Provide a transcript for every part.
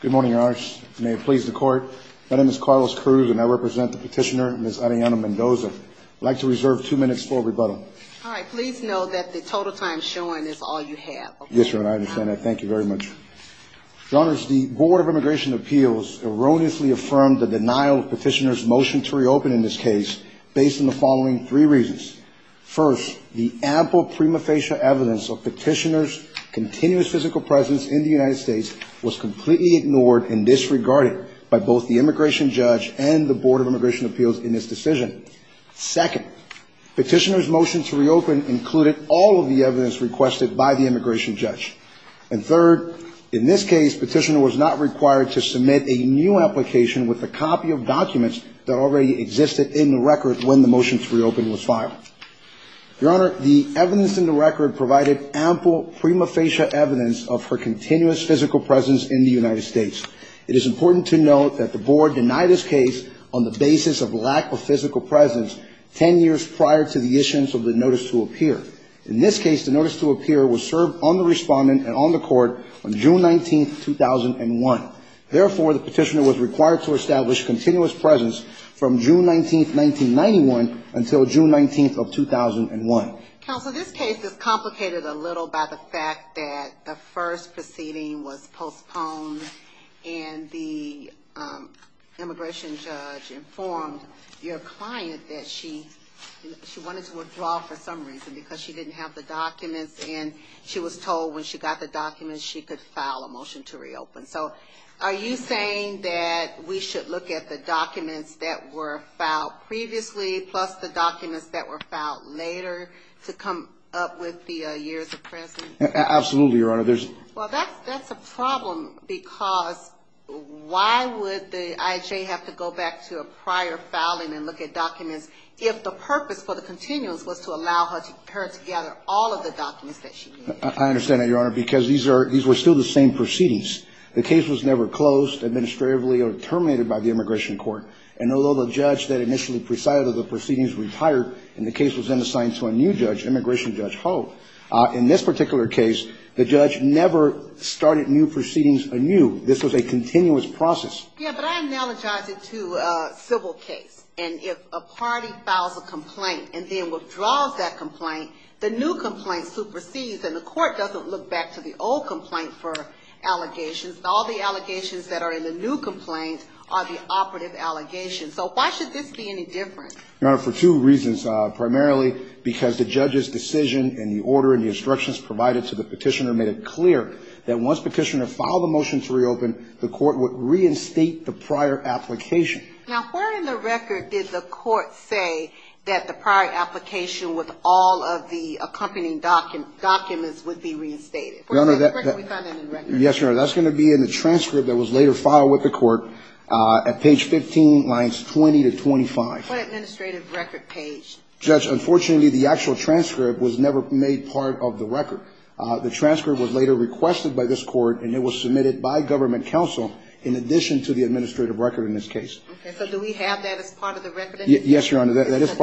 Good morning, Your Honor. May it please the Court. My name is Carlos Cruz and I represent the petitioner, Ms. Arellano-Mendoza. I'd like to reserve two minutes for rebuttal. All right. Please know that the total time shown is all you have. Yes, Your Honor. I understand that. Thank you very much. Your Honor, the Board of Immigration Appeals erroneously affirmed the denial of petitioner's motion to reopen in this case based on the following three reasons. First, the ample prima facie evidence of petitioner's continuous physical presence in the United States was completely ignored and disregarded by both the immigration judge and the Board of Immigration Appeals in this decision. Second, petitioner's motion to reopen included all of the evidence requested by the immigration judge. And third, in this case, petitioner was not required to submit a new application with a copy of documents that already existed in the record when the motion to reopen was filed. Your Honor, the evidence in the record provided ample prima facie evidence of her continuous physical presence in the United States. It is important to note that the Board denied this case on the basis of lack of physical presence ten years prior to the issuance of the notice to appear. In this case, the notice to appear was served on the respondent and on the court on June 19th, 2001. Therefore, the petitioner was required to establish continuous presence from June 19th, 1991 until June 19th of 2001. Counsel, this case is complicated a little by the fact that the first proceeding was postponed and the immigration judge informed your client that she wanted to withdraw for some reason because she didn't have the documents and she was told when she got the documents she could file a motion to reopen. So are you saying that we should look at the documents that were filed previously plus the documents that were filed later to come up with the years of presence? Absolutely, Your Honor. Well, that's a problem because why would the IHA have to go back to a prior filing and look at documents if the purpose for the continuance was to allow her to gather all of the documents that she needed? I understand that, Your Honor, because these were still the same proceedings. The case was never closed administratively or terminated by the immigration court. And although the judge that initially presided over the proceedings retired and the case was then assigned to a new judge, Immigration Judge Hull, in this particular case, the judge never started new proceedings anew. This was a continuous process. Yeah, but I analogize it to a civil case. And if a party files a complaint and then withdraws that complaint, the new complaint supersedes and the court doesn't look back to the old complaint for allegations. All the allegations that are in the new complaint are the operative allegations. So why should this be any different? Your Honor, for two reasons. Primarily because the judge's decision and the order and the instructions provided to the petitioner made it clear that once petitioner filed a motion to reopen, the court would reinstate the prior application. Now, where in the record did the court say that the prior application with all of the accompanying documents would be reinstated? Yes, Your Honor, that's going to be in the transcript that was later filed with the court at page 15, lines 20 to 25. What administrative record page? Judge, unfortunately, the actual transcript was never made part of the record. The transcript was later requested by this court, and it was submitted by government counsel in addition to the administrative record in this case. Okay, so do we have that as part of the record? Yes, Your Honor, that is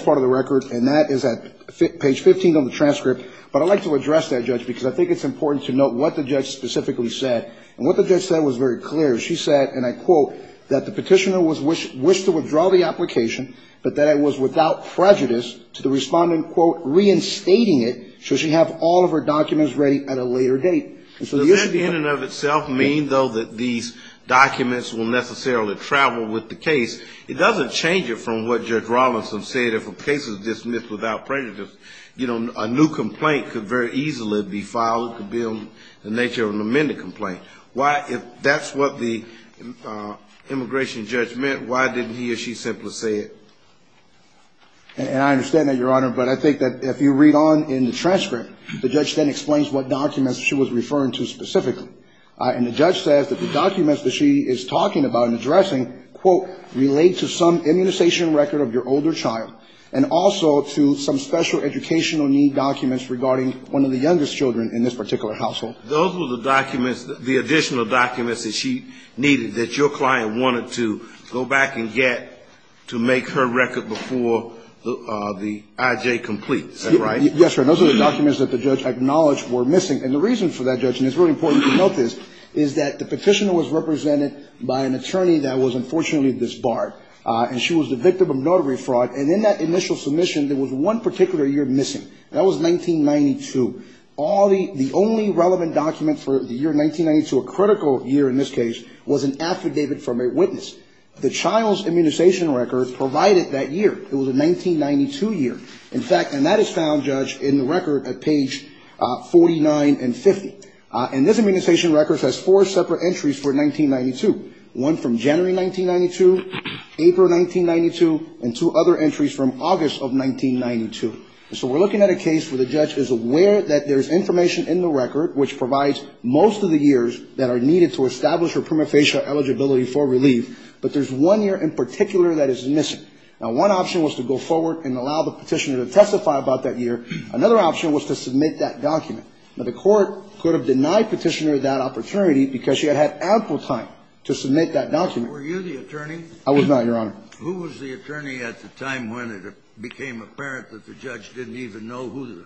part of the record, and that is at page 15 on the transcript. But I'd like to address that, Judge, because I think it's important to note what the judge specifically said. And what the judge said was very clear. She said, and I quote, that the petitioner wished to withdraw the application, but that it was without prejudice to the respondent, quote, reinstating it should she have all of her documents ready at a later date. Does that in and of itself mean, though, that these documents will necessarily travel with the case? It doesn't change it from what Judge Rawlinson said, if a case is dismissed without prejudice. You know, a new complaint could very easily be filed, could be the nature of an amended complaint. Why, if that's what the immigration judge meant, why didn't he or she simply say it? And I understand that, Your Honor, but I think that if you read on in the transcript, the judge then explains what documents she was referring to specifically. And the judge says that the documents that she is talking about and addressing, quote, relate to some immunization record of your older child, and also to some special educational need documents regarding one of the youngest children in this particular household. Those were the documents, the additional documents that she needed, that your client wanted to go back and get to make her record before the I.J. completes. Is that right? Yes, Your Honor. Those are the documents that the judge acknowledged were missing. And the reason for that, Judge, and it's really important to note this, is that the petitioner was represented by an attorney that was unfortunately disbarred. And she was the victim of notary fraud. And in that initial submission, there was one particular year missing. That was 1992. The only relevant document for the year 1992, a critical year in this case, was an affidavit from a witness. The child's immunization record provided that year. It was a 1992 year. In fact, and that is found, Judge, in the record at page 49 and 50. And this immunization record has four separate entries for 1992. One from January 1992, April 1992, and two other entries from August of 1992. So we're looking at a case where the judge is aware that there's information in the record which provides most of the years that are needed to establish her prima facie eligibility for relief, but there's one year in particular that is missing. Now, one option was to go forward and allow the petitioner to testify about that year. Another option was to submit that document. But the court could have denied petitioner that opportunity because she had had ample time to submit that document. Were you the attorney? I was not, Your Honor. Who was the attorney at the time when it became apparent that the judge didn't even know who the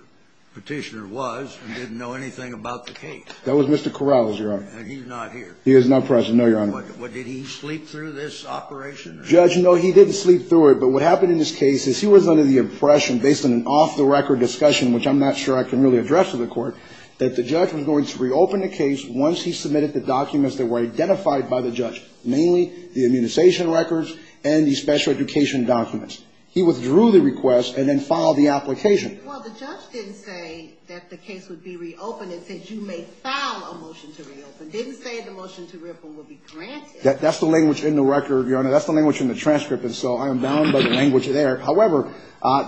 petitioner was and didn't know anything about the case? That was Mr. Corral, Your Honor. And he's not here? He is not present, no, Your Honor. Did he sleep through this operation? Judge, no, he didn't sleep through it. But what happened in this case is he was under the impression, based on an off-the-record discussion, which I'm not sure I can really address to the court, that the judge was going to reopen the case once he submitted the documents that were identified by the judge, mainly the immunization records and the special education documents. He withdrew the request and then filed the application. Well, the judge didn't say that the case would be reopened. It said you may file a motion to reopen. It didn't say the motion to ripple would be granted. That's the language in the record, Your Honor. That's the language in the transcript, and so I am bound by the language there. However,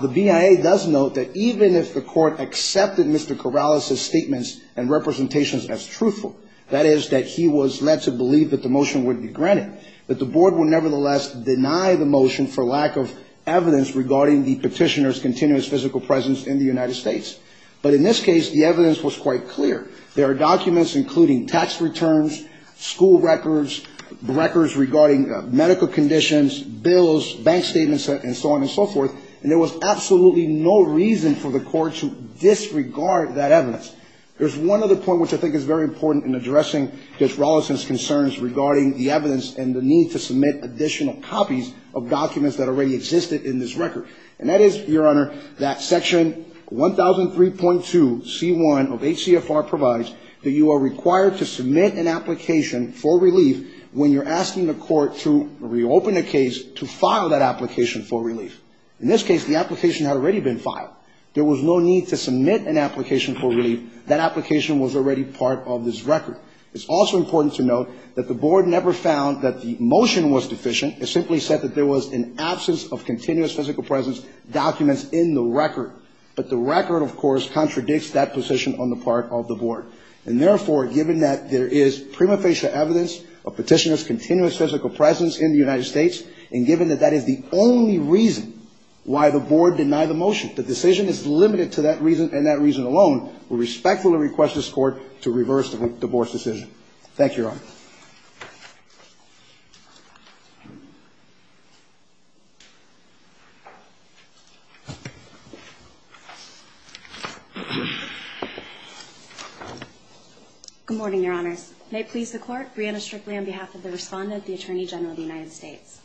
the BIA does note that even if the court accepted Mr. Corral's statements and representations as truthful, that is, that he was led to believe that the motion would be granted, that the board would nevertheless deny the motion for lack of evidence regarding the petitioner's continuous physical presence in the United States. But in this case, the evidence was quite clear. There are documents including tax returns, school records, records regarding medical conditions, bills, bank statements, and so on and so forth, and there was absolutely no reason for the court to disregard that evidence. There's one other point which I think is very important in addressing Judge Rolison's concerns regarding the evidence and the need to submit additional copies of documents that already existed in this record, and that is, Your Honor, that Section 1003.2c1 of HCFR provides that you are required to submit an application for relief when you're asking the court to reopen a case to file that application for relief. In this case, the application had already been filed. There was no need to submit an application for relief. That application was already part of this record. It's also important to note that the board never found that the motion was deficient. It simply said that there was an absence of continuous physical presence documents in the record. But the record, of course, contradicts that position on the part of the board, and therefore, given that there is prima facie evidence of petitioner's continuous physical presence in the United States, and given that that is the only reason why the board denied the motion, the decision is limited to that reason and that reason alone, we respectfully request this court to reverse the board's decision. Thank you, Your Honor. Thank you. Good morning, Your Honors. May it please the Court, Brianna Strickley on behalf of the respondent, the Attorney General of the United States.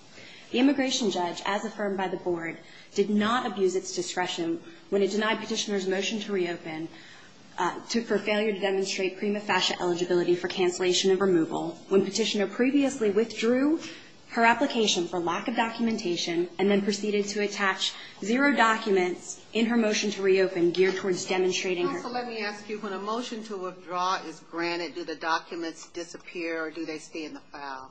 The immigration judge, as affirmed by the board, did not abuse its discretion when it denied petitioner's motion to reopen for failure to demonstrate prima facie eligibility for cancellation of removal. When petitioner previously withdrew her application for lack of documentation and then proceeded to attach zero documents in her motion to reopen geared towards demonstrating her... Also, let me ask you, when a motion to withdraw is granted, do the documents disappear or do they stay in the file?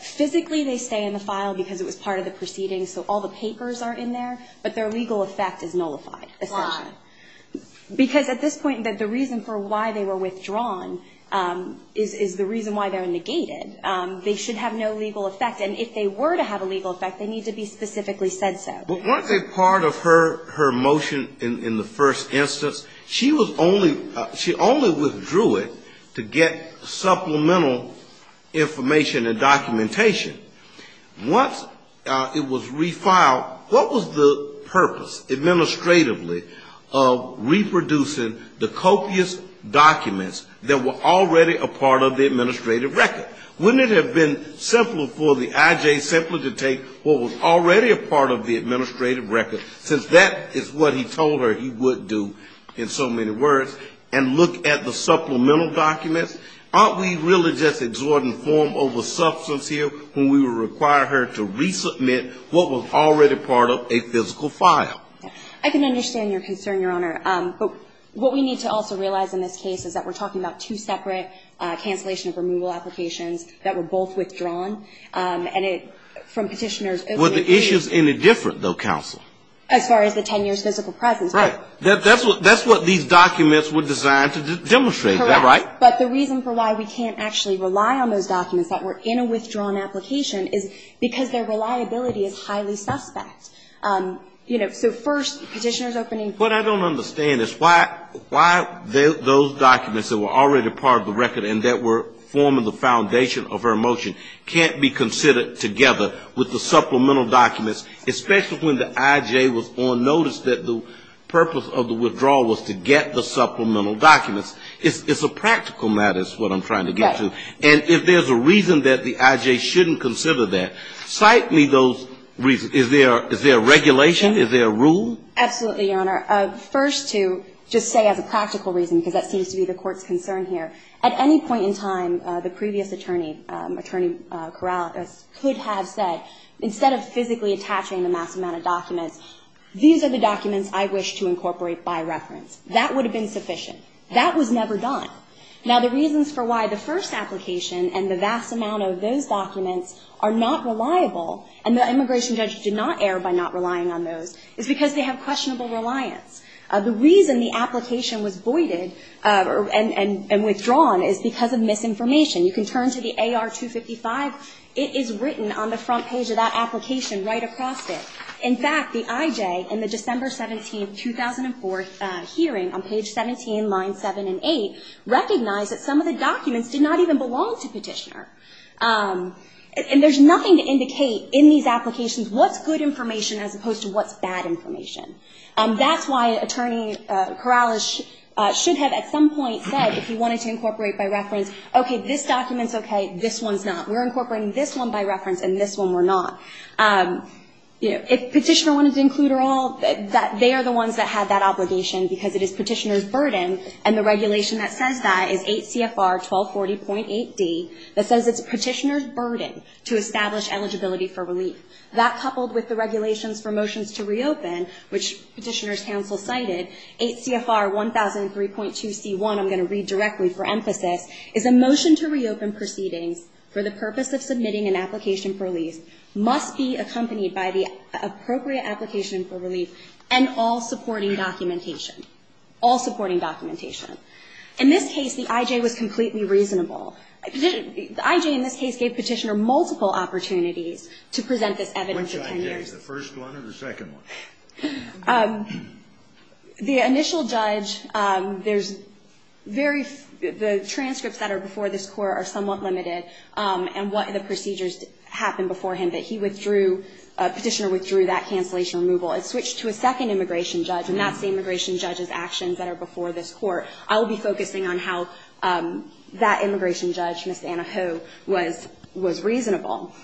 Physically, they stay in the file because it was part of the proceedings, so all the papers are in there, but their legal effect is nullified. Why? Because at this point, the reason for why they were withdrawn is the reason why they're negated. They should have no legal effect, and if they were to have a legal effect, they need to be specifically said so. But weren't they part of her motion in the first instance? She only withdrew it to get supplemental information and documentation. Once it was refiled, what was the purpose, administratively, of reproducing the copious documents that were already a part of the administrative record? Wouldn't it have been simpler for the IJ to take what was already a part of the administrative record, since that is what he told her he would do in so many words, and look at the supplemental documents? Aren't we really just exhorting form over substance here when we require her to resubmit what was already part of a physical file? I can understand your concern, Your Honor, but what we need to also realize in this case is that we're talking about two separate cancellation of removal applications that were both withdrawn, and from petitioners. Were the issues any different, though, counsel? As far as the 10 years physical presence. Right. That's what these documents were designed to demonstrate, is that right? Correct. But the reason for why we can't actually rely on those documents that were in a withdrawn application is because their reliability is highly suspect. You know, so first petitioners opening. What I don't understand is why those documents that were already part of the record and that were forming the foundation of her motion can't be considered together with the supplemental documents, especially when the IJ was on notice that the purpose of the withdrawal was to get the supplemental documents. It's a practical matter is what I'm trying to get to. Right. And if there's a reason that the IJ shouldn't consider that, cite me those reasons. Is there regulation? Is there a rule? Absolutely, Your Honor. First, to just say as a practical reason, because that seems to be the court's concern here, at any point in time, the previous attorney, Attorney Corral, could have said, instead of physically attaching the mass amount of documents, these are the documents I wish to incorporate by reference. That would have been sufficient. That was never done. Now, the reasons for why the first application and the vast amount of those documents are not reliable, and the immigration judge did not err by not relying on those, is because they have questionable reliance. The reason the application was voided and withdrawn is because of misinformation. You can turn to the AR-255. It is written on the front page of that application right across it. In fact, the IJ, in the December 17, 2004 hearing on page 17, lines 7 and 8, recognized that some of the documents did not even belong to Petitioner. And there's nothing to indicate in these applications what's good information as opposed to what's bad information. That's why Attorney Corral should have at some point said, if he wanted to incorporate by reference, okay, this document's okay, this one's not. We're incorporating this one by reference, and this one we're not. If Petitioner wanted to include it all, they are the ones that have that obligation, because it is Petitioner's burden. And the regulation that says that is 8 CFR 1240.8D, that says it's Petitioner's burden to establish eligibility for relief. That, coupled with the regulations for motions to reopen, which Petitioner's counsel cited, 8 CFR 1003.2C1, I'm going to read directly for emphasis, is a motion to reopen proceedings for the purpose of submitting an application for relief, must be accompanied by the appropriate application for relief, and all supporting documentation. All supporting documentation. In this case, the IJ was completely reasonable. The IJ in this case gave Petitioner multiple opportunities to present this evidence for 10 years. Which IJ, the first one or the second one? The initial judge, there's very, the transcripts that are before this court are somewhat limited, and what the procedures happened before him that he withdrew, Petitioner withdrew that cancellation removal. It switched to a second immigration judge, and that's the immigration judge's actions that are before this court. I will be focusing on how that immigration judge, Ms. Anna Ho, was reasonable.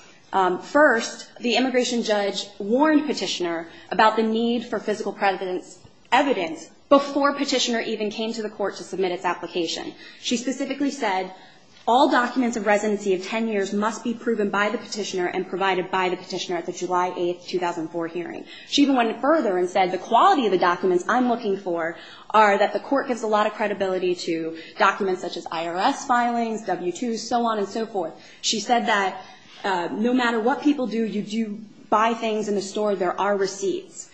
First, the immigration judge warned Petitioner about the need for physical presence evidence before Petitioner even came to the court to submit its application. She specifically said, all documents of residency of 10 years must be proven by the Petitioner and provided by the Petitioner at the July 8, 2004 hearing. She even went further and said, the quality of the documents I'm looking for are that the court gives a lot of credibility to documents such as IRS filings, W-2s, so on and so forth. She said that no matter what people do, you do buy things in the store, there are receipts.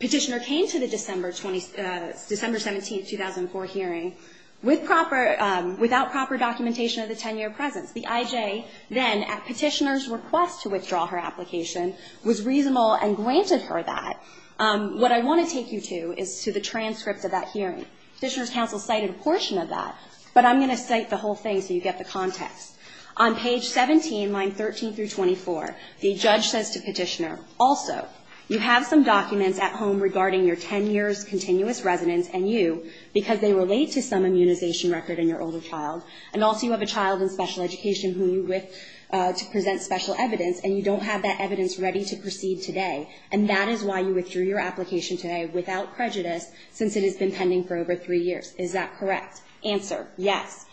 Petitioner came to the December 17, 2004 hearing without proper documentation of the 10-year presence. The IJ then, at Petitioner's request to withdraw her application, was reasonable and granted her that. What I want to take you to is to the transcript of that hearing. Petitioner's counsel cited a portion of that, but I'm going to cite the whole thing so you get the context. On page 17, line 13 through 24, the judge says to Petitioner, also, you have some documents at home regarding your 10 years' continuous residence and you because they relate to some immunization record in your older child and also you have a child in special education who you with to present special evidence and you don't have that evidence ready to proceed today and that is why you withdrew your application today without prejudice since it has been pending for over three years. Is that correct? Answer, yes.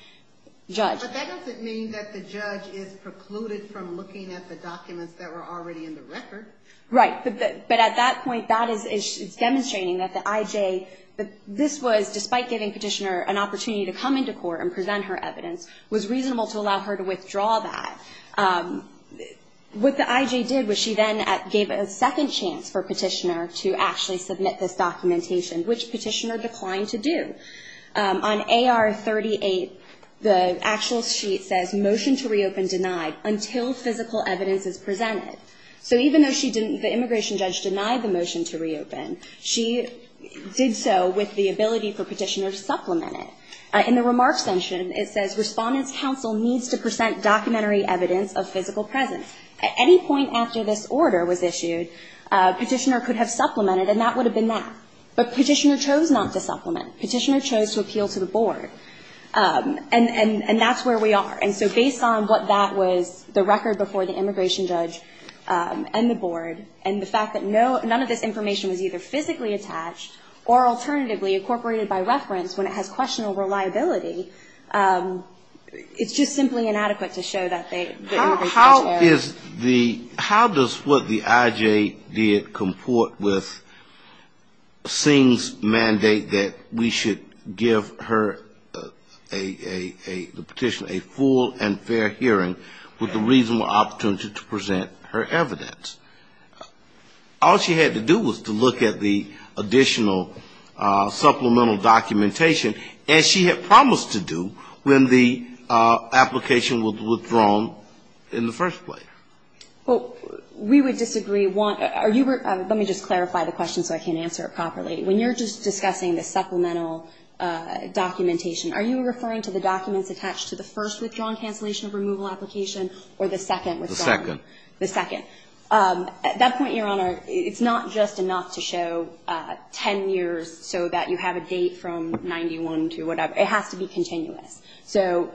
Judge. But that doesn't mean that the judge is precluded from looking at the documents that were already in the record. Right, but at that point, that is demonstrating that the IJ, this was, despite giving Petitioner an opportunity to come into court and present her evidence, was reasonable to allow her to withdraw that. What the IJ did was she then gave a second chance for Petitioner to actually submit this documentation, which Petitioner declined to do. On AR 38, the actual sheet says, motion to reopen denied until physical evidence is presented. So even though she didn't, the immigration judge denied the motion to reopen, she did so with the ability for Petitioner to supplement it. In the remarks section, it says, documentary evidence of physical presence. At any point after this order was issued, Petitioner could have supplemented and that would have been that. But Petitioner chose not to supplement. Petitioner chose to appeal to the board. And that's where we are. And so based on what that was, the record before the immigration judge and the board, and the fact that none of this information was either physically attached or alternatively incorporated by reference when it has questionable reliability, it's just simply inadequate to show that the immigration judge How is the, how does what the IJ did comport with mandate that we should give her a, the Petitioner a full and fair hearing with the reasonable opportunity to present her evidence? All she had to do was to look at the additional supplemental documentation, as she had promised to do when the application was withdrawn in the first place. Well, we would disagree. Are you, let me just clarify the question so I can answer it properly. When you're just discussing the supplemental documentation, are you referring to the documents attached to the first withdrawn cancellation of removal application or the second withdrawn? The second. The second. At that point, Your Honor, it's not just enough to show 10 years so that you have a date from 91 to whatever. It has to be continuous. So,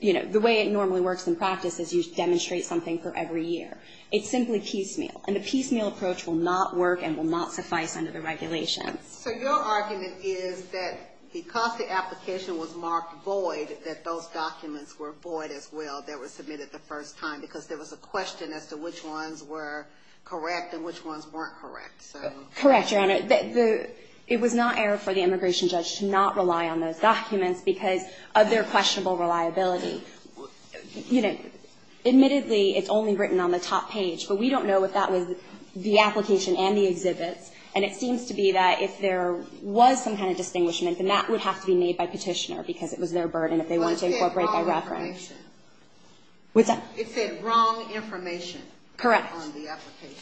you know, the way it normally works in practice is you demonstrate something for every year. It's simply piecemeal. And a piecemeal approach will not work and will not suffice under the regulations. So your argument is that because the application was marked void, that those documents were void as well that were submitted the first time because there was a question as to which ones were correct and which ones weren't correct. Correct, Your Honor. It was not error for the immigration judge to not rely on those documents because of their questionable reliability. You know, admittedly, it's only written on the top page, but we don't know if that was the application and the exhibits. And it seems to be that if there was some kind of distinguishment, then that would have to be made by Petitioner because it was their burden if they wanted to incorporate by reference. It said wrong information. Correct. On the application.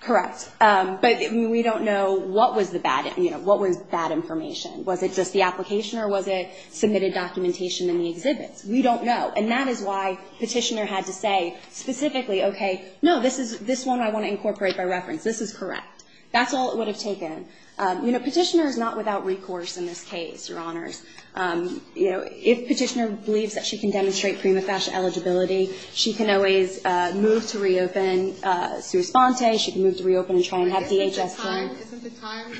Correct. But we don't know what was the bad, you know, what was bad information. Was it just the application or was it submitted documentation in the exhibits? We don't know. And that is why Petitioner had to say specifically, okay, no, this one I want to incorporate by reference. This is correct. That's all it would have taken. You know, Petitioner is not without recourse in this case, Your Honors. You know, if Petitioner believes that she can demonstrate prima facie eligibility, she can always move to reopen Suresponte. She can move to reopen and try and have DHS. Isn't the time,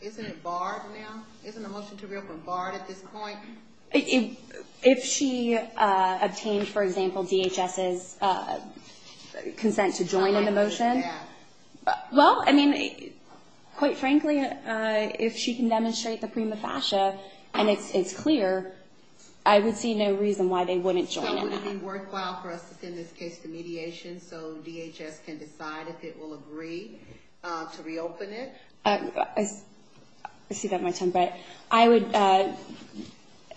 isn't it barred now? Isn't the motion to reopen barred at this point? If she obtained, for example, DHS's consent to join in the motion. Yeah. Well, I mean, quite frankly, if she can demonstrate the prima facie and it's clear, I would see no reason why they wouldn't join in that. Would it be worthwhile for us to send this case to mediation so DHS can decide if it will agree to reopen it? I see that in my time, but I would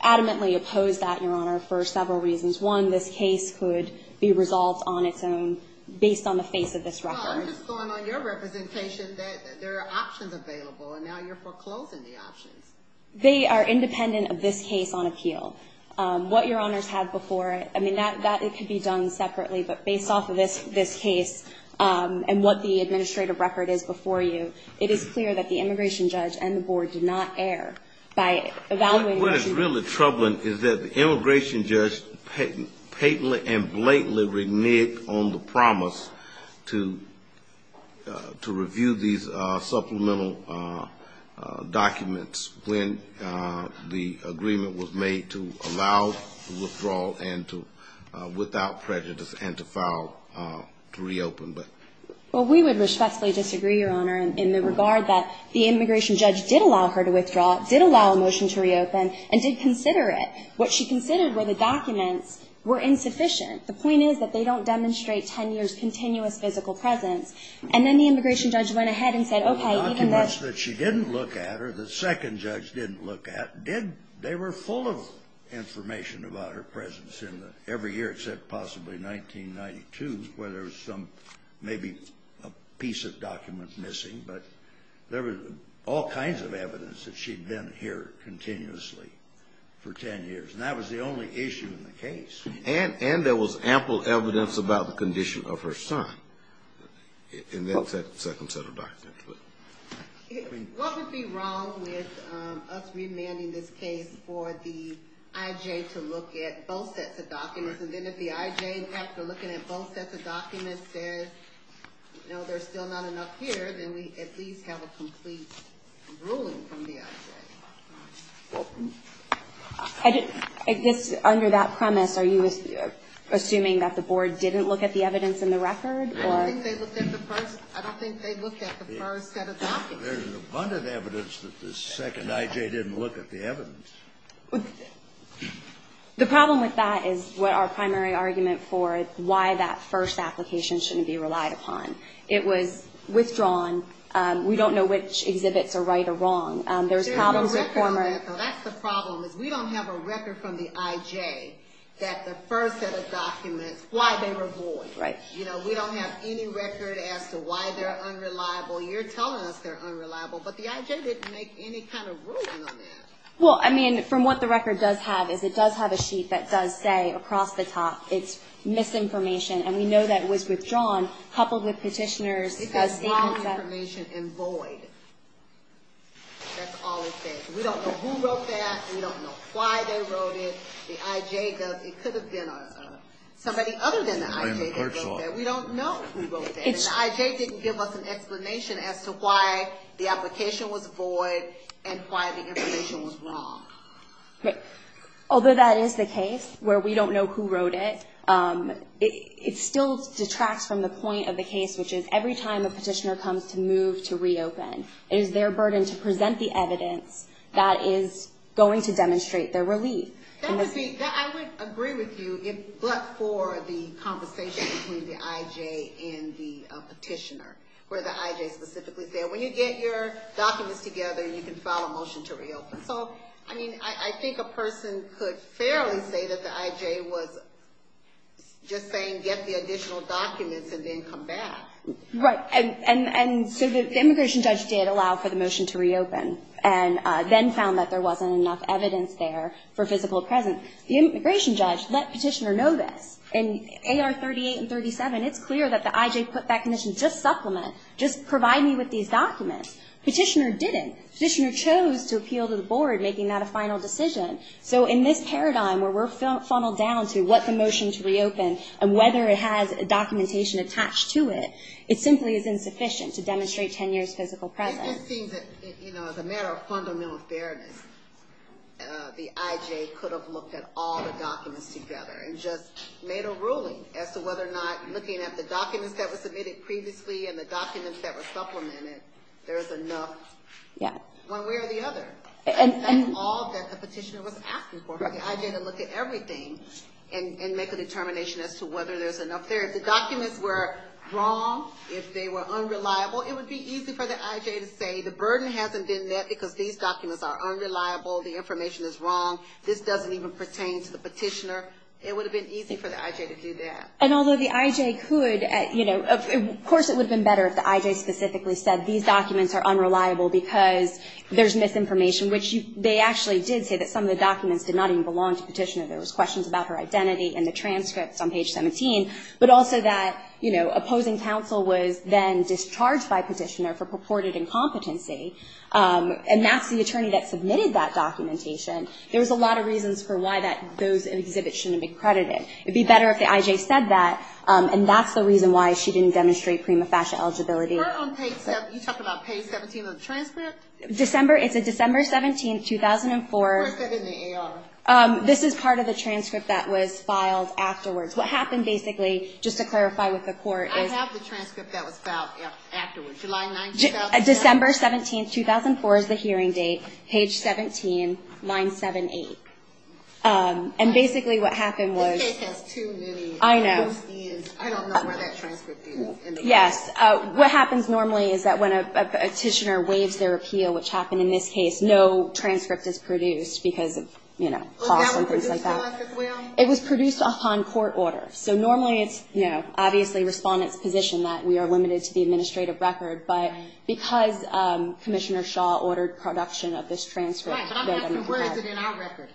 adamantly oppose that, Your Honor, for several reasons. One, this case could be resolved on its own based on the face of this record. Well, I'm just going on your representation that there are options available and now you're foreclosing the options. They are independent of this case on appeal. What Your Honor's had before, I mean, that could be done separately, but based off of this case and what the administrative record is before you, it is clear that the immigration judge and the board did not err by evaluating. What is really troubling is that the immigration judge patently and blatantly reneged on the promise to review these supplemental documents when the agreement was made to allow the withdrawal and to, without prejudice, and to file to reopen. Well, we would respectfully disagree, Your Honor, in the regard that the immigration judge did allow her to withdraw, did allow a motion to reopen, and did consider it. What she considered were the documents were insufficient. The point is that they don't demonstrate 10 years' continuous physical presence. And then the immigration judge went ahead and said, okay, even though... The documents that she didn't look at or the second judge didn't look at did, they were full of information about her presence in the, every year except possibly 1992 where there was some, maybe a piece of document missing, but there was all kinds of issues. And that was the only issue in the case. And there was ample evidence about the condition of her son in that second set of documents. What would be wrong with us remanding this case for the I.J. to look at both sets of documents, and then if the I.J. after looking at both sets of documents says, no, there's still not enough here, then we at least have a complete ruling from the I.J. I just, under that premise, are you assuming that the board didn't look at the evidence in the record? I don't think they looked at the first set of documents. There's abundant evidence that the second I.J. didn't look at the evidence. The problem with that is what our primary argument for why that first application shouldn't be relied upon. It was withdrawn. We don't know which exhibits are right or wrong. There's problems with former... We don't have a record from the I.J. that the first set of documents, why they were void. We don't have any record as to why they're unreliable. You're telling us they're unreliable, but the I.J. didn't make any kind of ruling on that. Well, I mean, from what the record does have is it does have a sheet that does say across the top it's misinformation, and we know that it was withdrawn, coupled with petitioner's statement that... ...and void. That's all it says. We don't know who wrote that. We don't know why they wrote it. The I.J. does. It could have been somebody other than the I.J. that wrote that. We don't know who wrote that, and the I.J. didn't give us an explanation as to why the application was void and why the information was wrong. Although that is the case, where we don't know who wrote it, it still detracts from the point of the case, which is every time a petitioner comes to move to reopen, it is their burden to present the evidence that is going to demonstrate their relief. That would be...I would agree with you, but for the conversation between the I.J. and the petitioner, where the I.J. specifically said, when you get your documents together and you can file a motion to reopen. So, I mean, I think a person could fairly say that the I.J. was just saying, get the additional documents and then come back. Right. And so the immigration judge did allow for the motion to reopen and then found that there wasn't enough evidence there for physical presence. The immigration judge let petitioner know this. In A.R. 38 and 37, it's clear that the I.J. put that condition, just supplement, just provide me with these documents. Petitioner didn't. Petitioner chose to appeal to the motion to reopen and whether it has documentation attached to it, it simply is insufficient to demonstrate 10 years physical presence. It just seems that, you know, as a matter of fundamental fairness, the I.J. could have looked at all the documents together and just made a ruling as to whether or not looking at the documents that were submitted previously and the documents that were supplemented, there's enough one way or the other. That's all that the petitioner was asking for. For the I.J. to look at everything and make a determination as to whether there's enough there. If the documents were wrong, if they were unreliable, it would be easy for the I.J. to say the burden hasn't been met because these documents are unreliable, the information is wrong, this doesn't even pertain to the petitioner. It would have been easy for the I.J. to do that. And although the I.J. could, you know, of course it would have been better if the I.J. specifically said these documents are unreliable because there's misinformation, which they actually did say that some of the documents did not even belong to the petitioner. There was questions about her identity and the transcripts on page 17, but also that, you know, opposing counsel was then discharged by petitioner for purported incompetency. And that's the attorney that submitted that documentation. There was a lot of reasons for why those exhibits shouldn't be credited. It would be better if the I.J. said that, and that's the reason why she didn't demonstrate prima facie eligibility. You talked about page 17 of the transcript? December, it's a December 17, 2004. Where is that in the AR? This is part of the transcript that was filed afterwards. What happened basically, just to clarify with the court, is... I have the transcript that was filed afterwards, July 9, 2004? December 17, 2004 is the hearing date, page 17, 978. And basically what happened was... This page has too many... I know. I don't know where that transcript is. Yes. What happens normally is that when a petitioner waives their appeal, which happened in this case, no transcript is produced because, you know, costs and things like that. Was that one produced to us as well? It was produced upon court order. So normally it's, you know, obviously Respondent's position that we are limited to the administrative record, but because Commissioner Shaw ordered production of this transcript... Right, but I'm asking where is it in our record?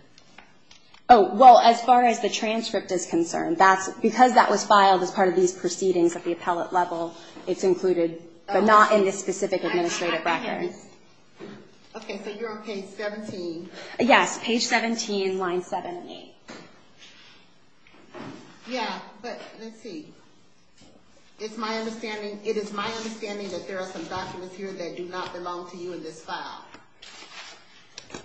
Oh, well, as far as the transcript is concerned, because that was filed as part of these but not in this specific administrative record. Okay, so you're on page 17. Yes, page 17, line 78. Yeah, but let's see. It is my understanding that there are some documents here that do not belong to you in this file.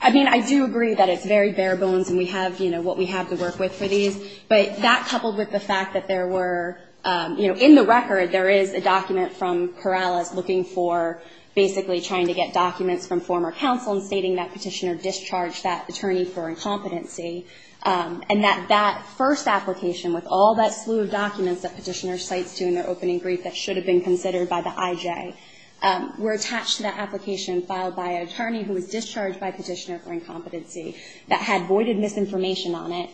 I mean, I do agree that it's very bare bones and we have, you know, what we have to work with for these, but that coupled with the fact that there were, you know, in the record there is a document from Corrales looking for basically trying to get documents from former counsel and stating that petitioner discharged that attorney for incompetency and that that first application with all that slew of documents that petitioner cites to in their opening brief that should have been considered by the IJ were attached to that application filed by an attorney who was discharged by petitioner for incompetency that had voided misinformation on it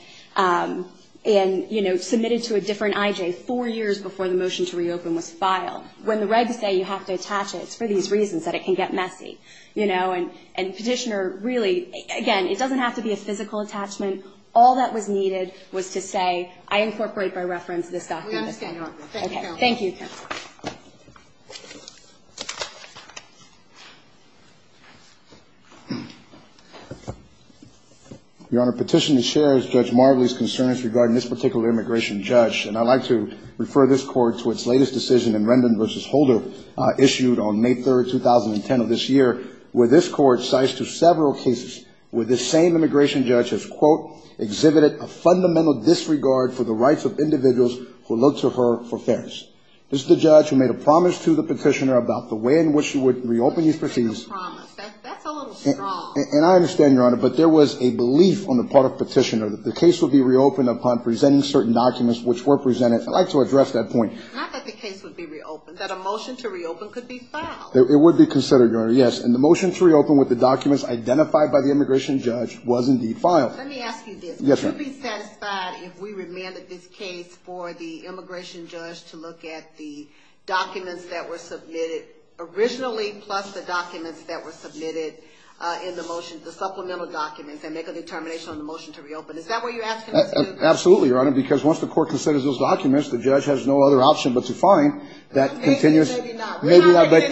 and, you know, submitted to a different IJ four years before the motion to reopen was filed. When the regs say you have to attach it, it's for these reasons that it can get messy, you know, and petitioner really, again, it doesn't have to be a physical attachment. All that was needed was to say I incorporate by reference this document. Okay, thank you. Your Honor, petitioner shares Judge Marbley's concerns regarding this particular immigration judge, and I'd like to refer this court to its latest decision in Rendon v. Holder issued on May 3rd, 2010 of this year, where this court cites to several cases where this same immigration judge has quote, exhibited a fundamental disregard for the rights of individuals who look to her for fairness. This is the judge who made a promise to the petitioner about the way in which she would reopen these proceedings. And I understand, Your Honor, but there was a belief on the part of petitioner that the case would be reopened upon presenting certain documents which were presented. I'd like to address that point. It would be considered, Your Honor, yes. And the motion to reopen with the documents identified by the immigration judge was indeed filed. Let me ask you this. Yes, ma'am. Would you be satisfied if we remanded this case for the immigration judge to look at the documents that were submitted originally, plus the documents that were submitted in the motion, the supplemental documents, and make a determination on the motion to reopen? Is that what you're asking us to do? Absolutely, Your Honor, because once the court considers those documents, the judge has no other option but to find that continuous... Maybe, maybe not. Maybe not, but...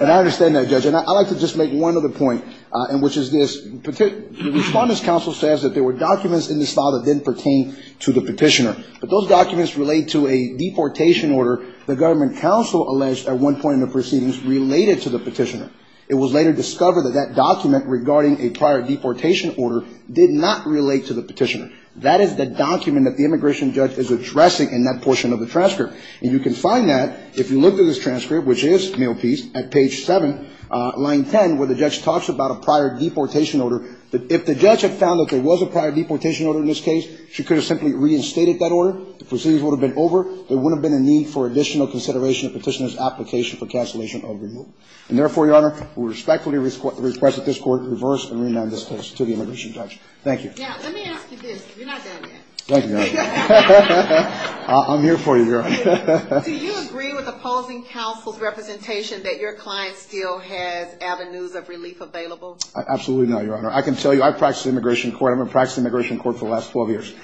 And I understand that, Judge. And I'd like to just make one other point, which is this. The Respondents' Counsel says that there were documents in the file that didn't pertain to the petitioner. But those documents relate to a deportation order the government counsel alleged at one point in the proceedings related to the petitioner. It was later discovered that that document regarding a prior deportation order did not relate to the petitioner. That is the document that the immigration judge is addressing in that portion of the transcript. And you can find that, if you look at this transcript, which is mail piece, at page 7, line 10, where the judge talks about a prior deportation order, that if the judge had found that there was a prior deportation order in this case, she could have simply reinstated that order. The proceedings would have been over. There wouldn't have been a need for additional consideration of the petitioner's application for cancellation of the removal. And therefore, Your Honor, we respectfully request that this Court reverse and remand this case to the immigration judge. Thank you. Now, let me ask you this. Thank you, Your Honor. I'm here for you, Your Honor. Do you agree with opposing counsel's representation that your client still has avenues of relief available? Absolutely not, Your Honor. I can tell you I've practiced immigration court. I've been practicing immigration court for the last 12 years.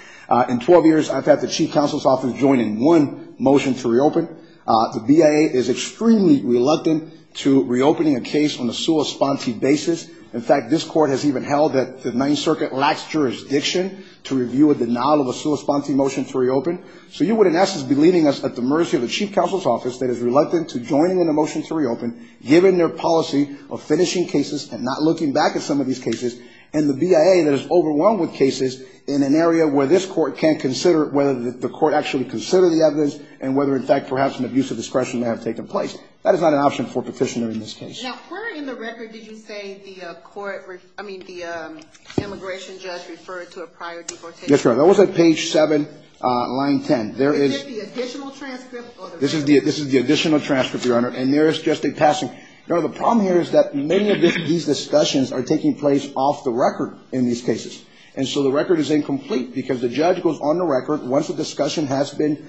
In 12 years, I've had the chief counsel's office join in one motion to reopen. The BIA is extremely reluctant to reopening a case on a sua sponte basis. In fact, this Court has even held that the Ninth Circuit lacks jurisdiction to review a denial of a sua sponte motion to reopen. So you would, in essence, be leaving us at the mercy of the chief counsel's office that is reluctant to join in a motion to reopen, given their policy of finishing cases and not looking back at some of these cases, and the BIA that is overwhelmed with cases in an area where this Court can't consider whether the Court actually considered the evidence and whether, in fact, perhaps an abuse of discretion may have taken place. That is not an option for a petitioner in this case. Now, where in the record did you say the immigration judge referred to a prior deportation? Yes, Your Honor. That was at page 7, line 10. Is it the additional transcript? This is the additional transcript, Your Honor. And there is just a passing. Now, the problem here is that many of these discussions are taking place off the record in these cases. And so the record is incomplete because the judge goes on the record. Once a discussion has been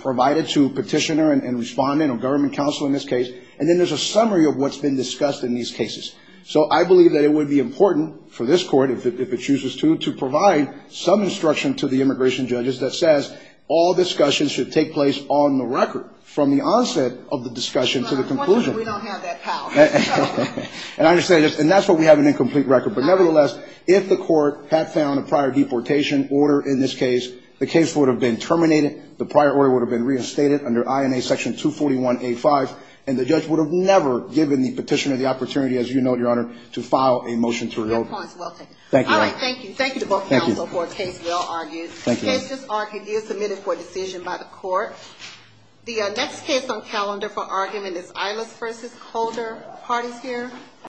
provided to a petitioner and respondent or government counsel in this case, and then there's a summary of what's been discussed in these cases. So I believe that it would be important for this Court, if it chooses to, to provide some instruction to the immigration judges that says all discussions should take place on the record from the onset of the discussion to the conclusion. But unfortunately, we don't have that power. And I understand. And that's why we have an incomplete record. But nevertheless, if the Court had found a prior deportation order in this case, the case would have been terminated, the prior order would have been reinstated under INA section 241A.5, and the judge would have never given the petitioner the opportunity, as you note, Your Honor, to file a motion to reopen. Your point is well taken. Thank you, Your Honor. All right. Thank you. Thank you to both counsel for a case well argued. Thank you. The case is argued. It is submitted for decision by the Court. The next case on calendar for argument is Ilis v. Coulter. The part is here.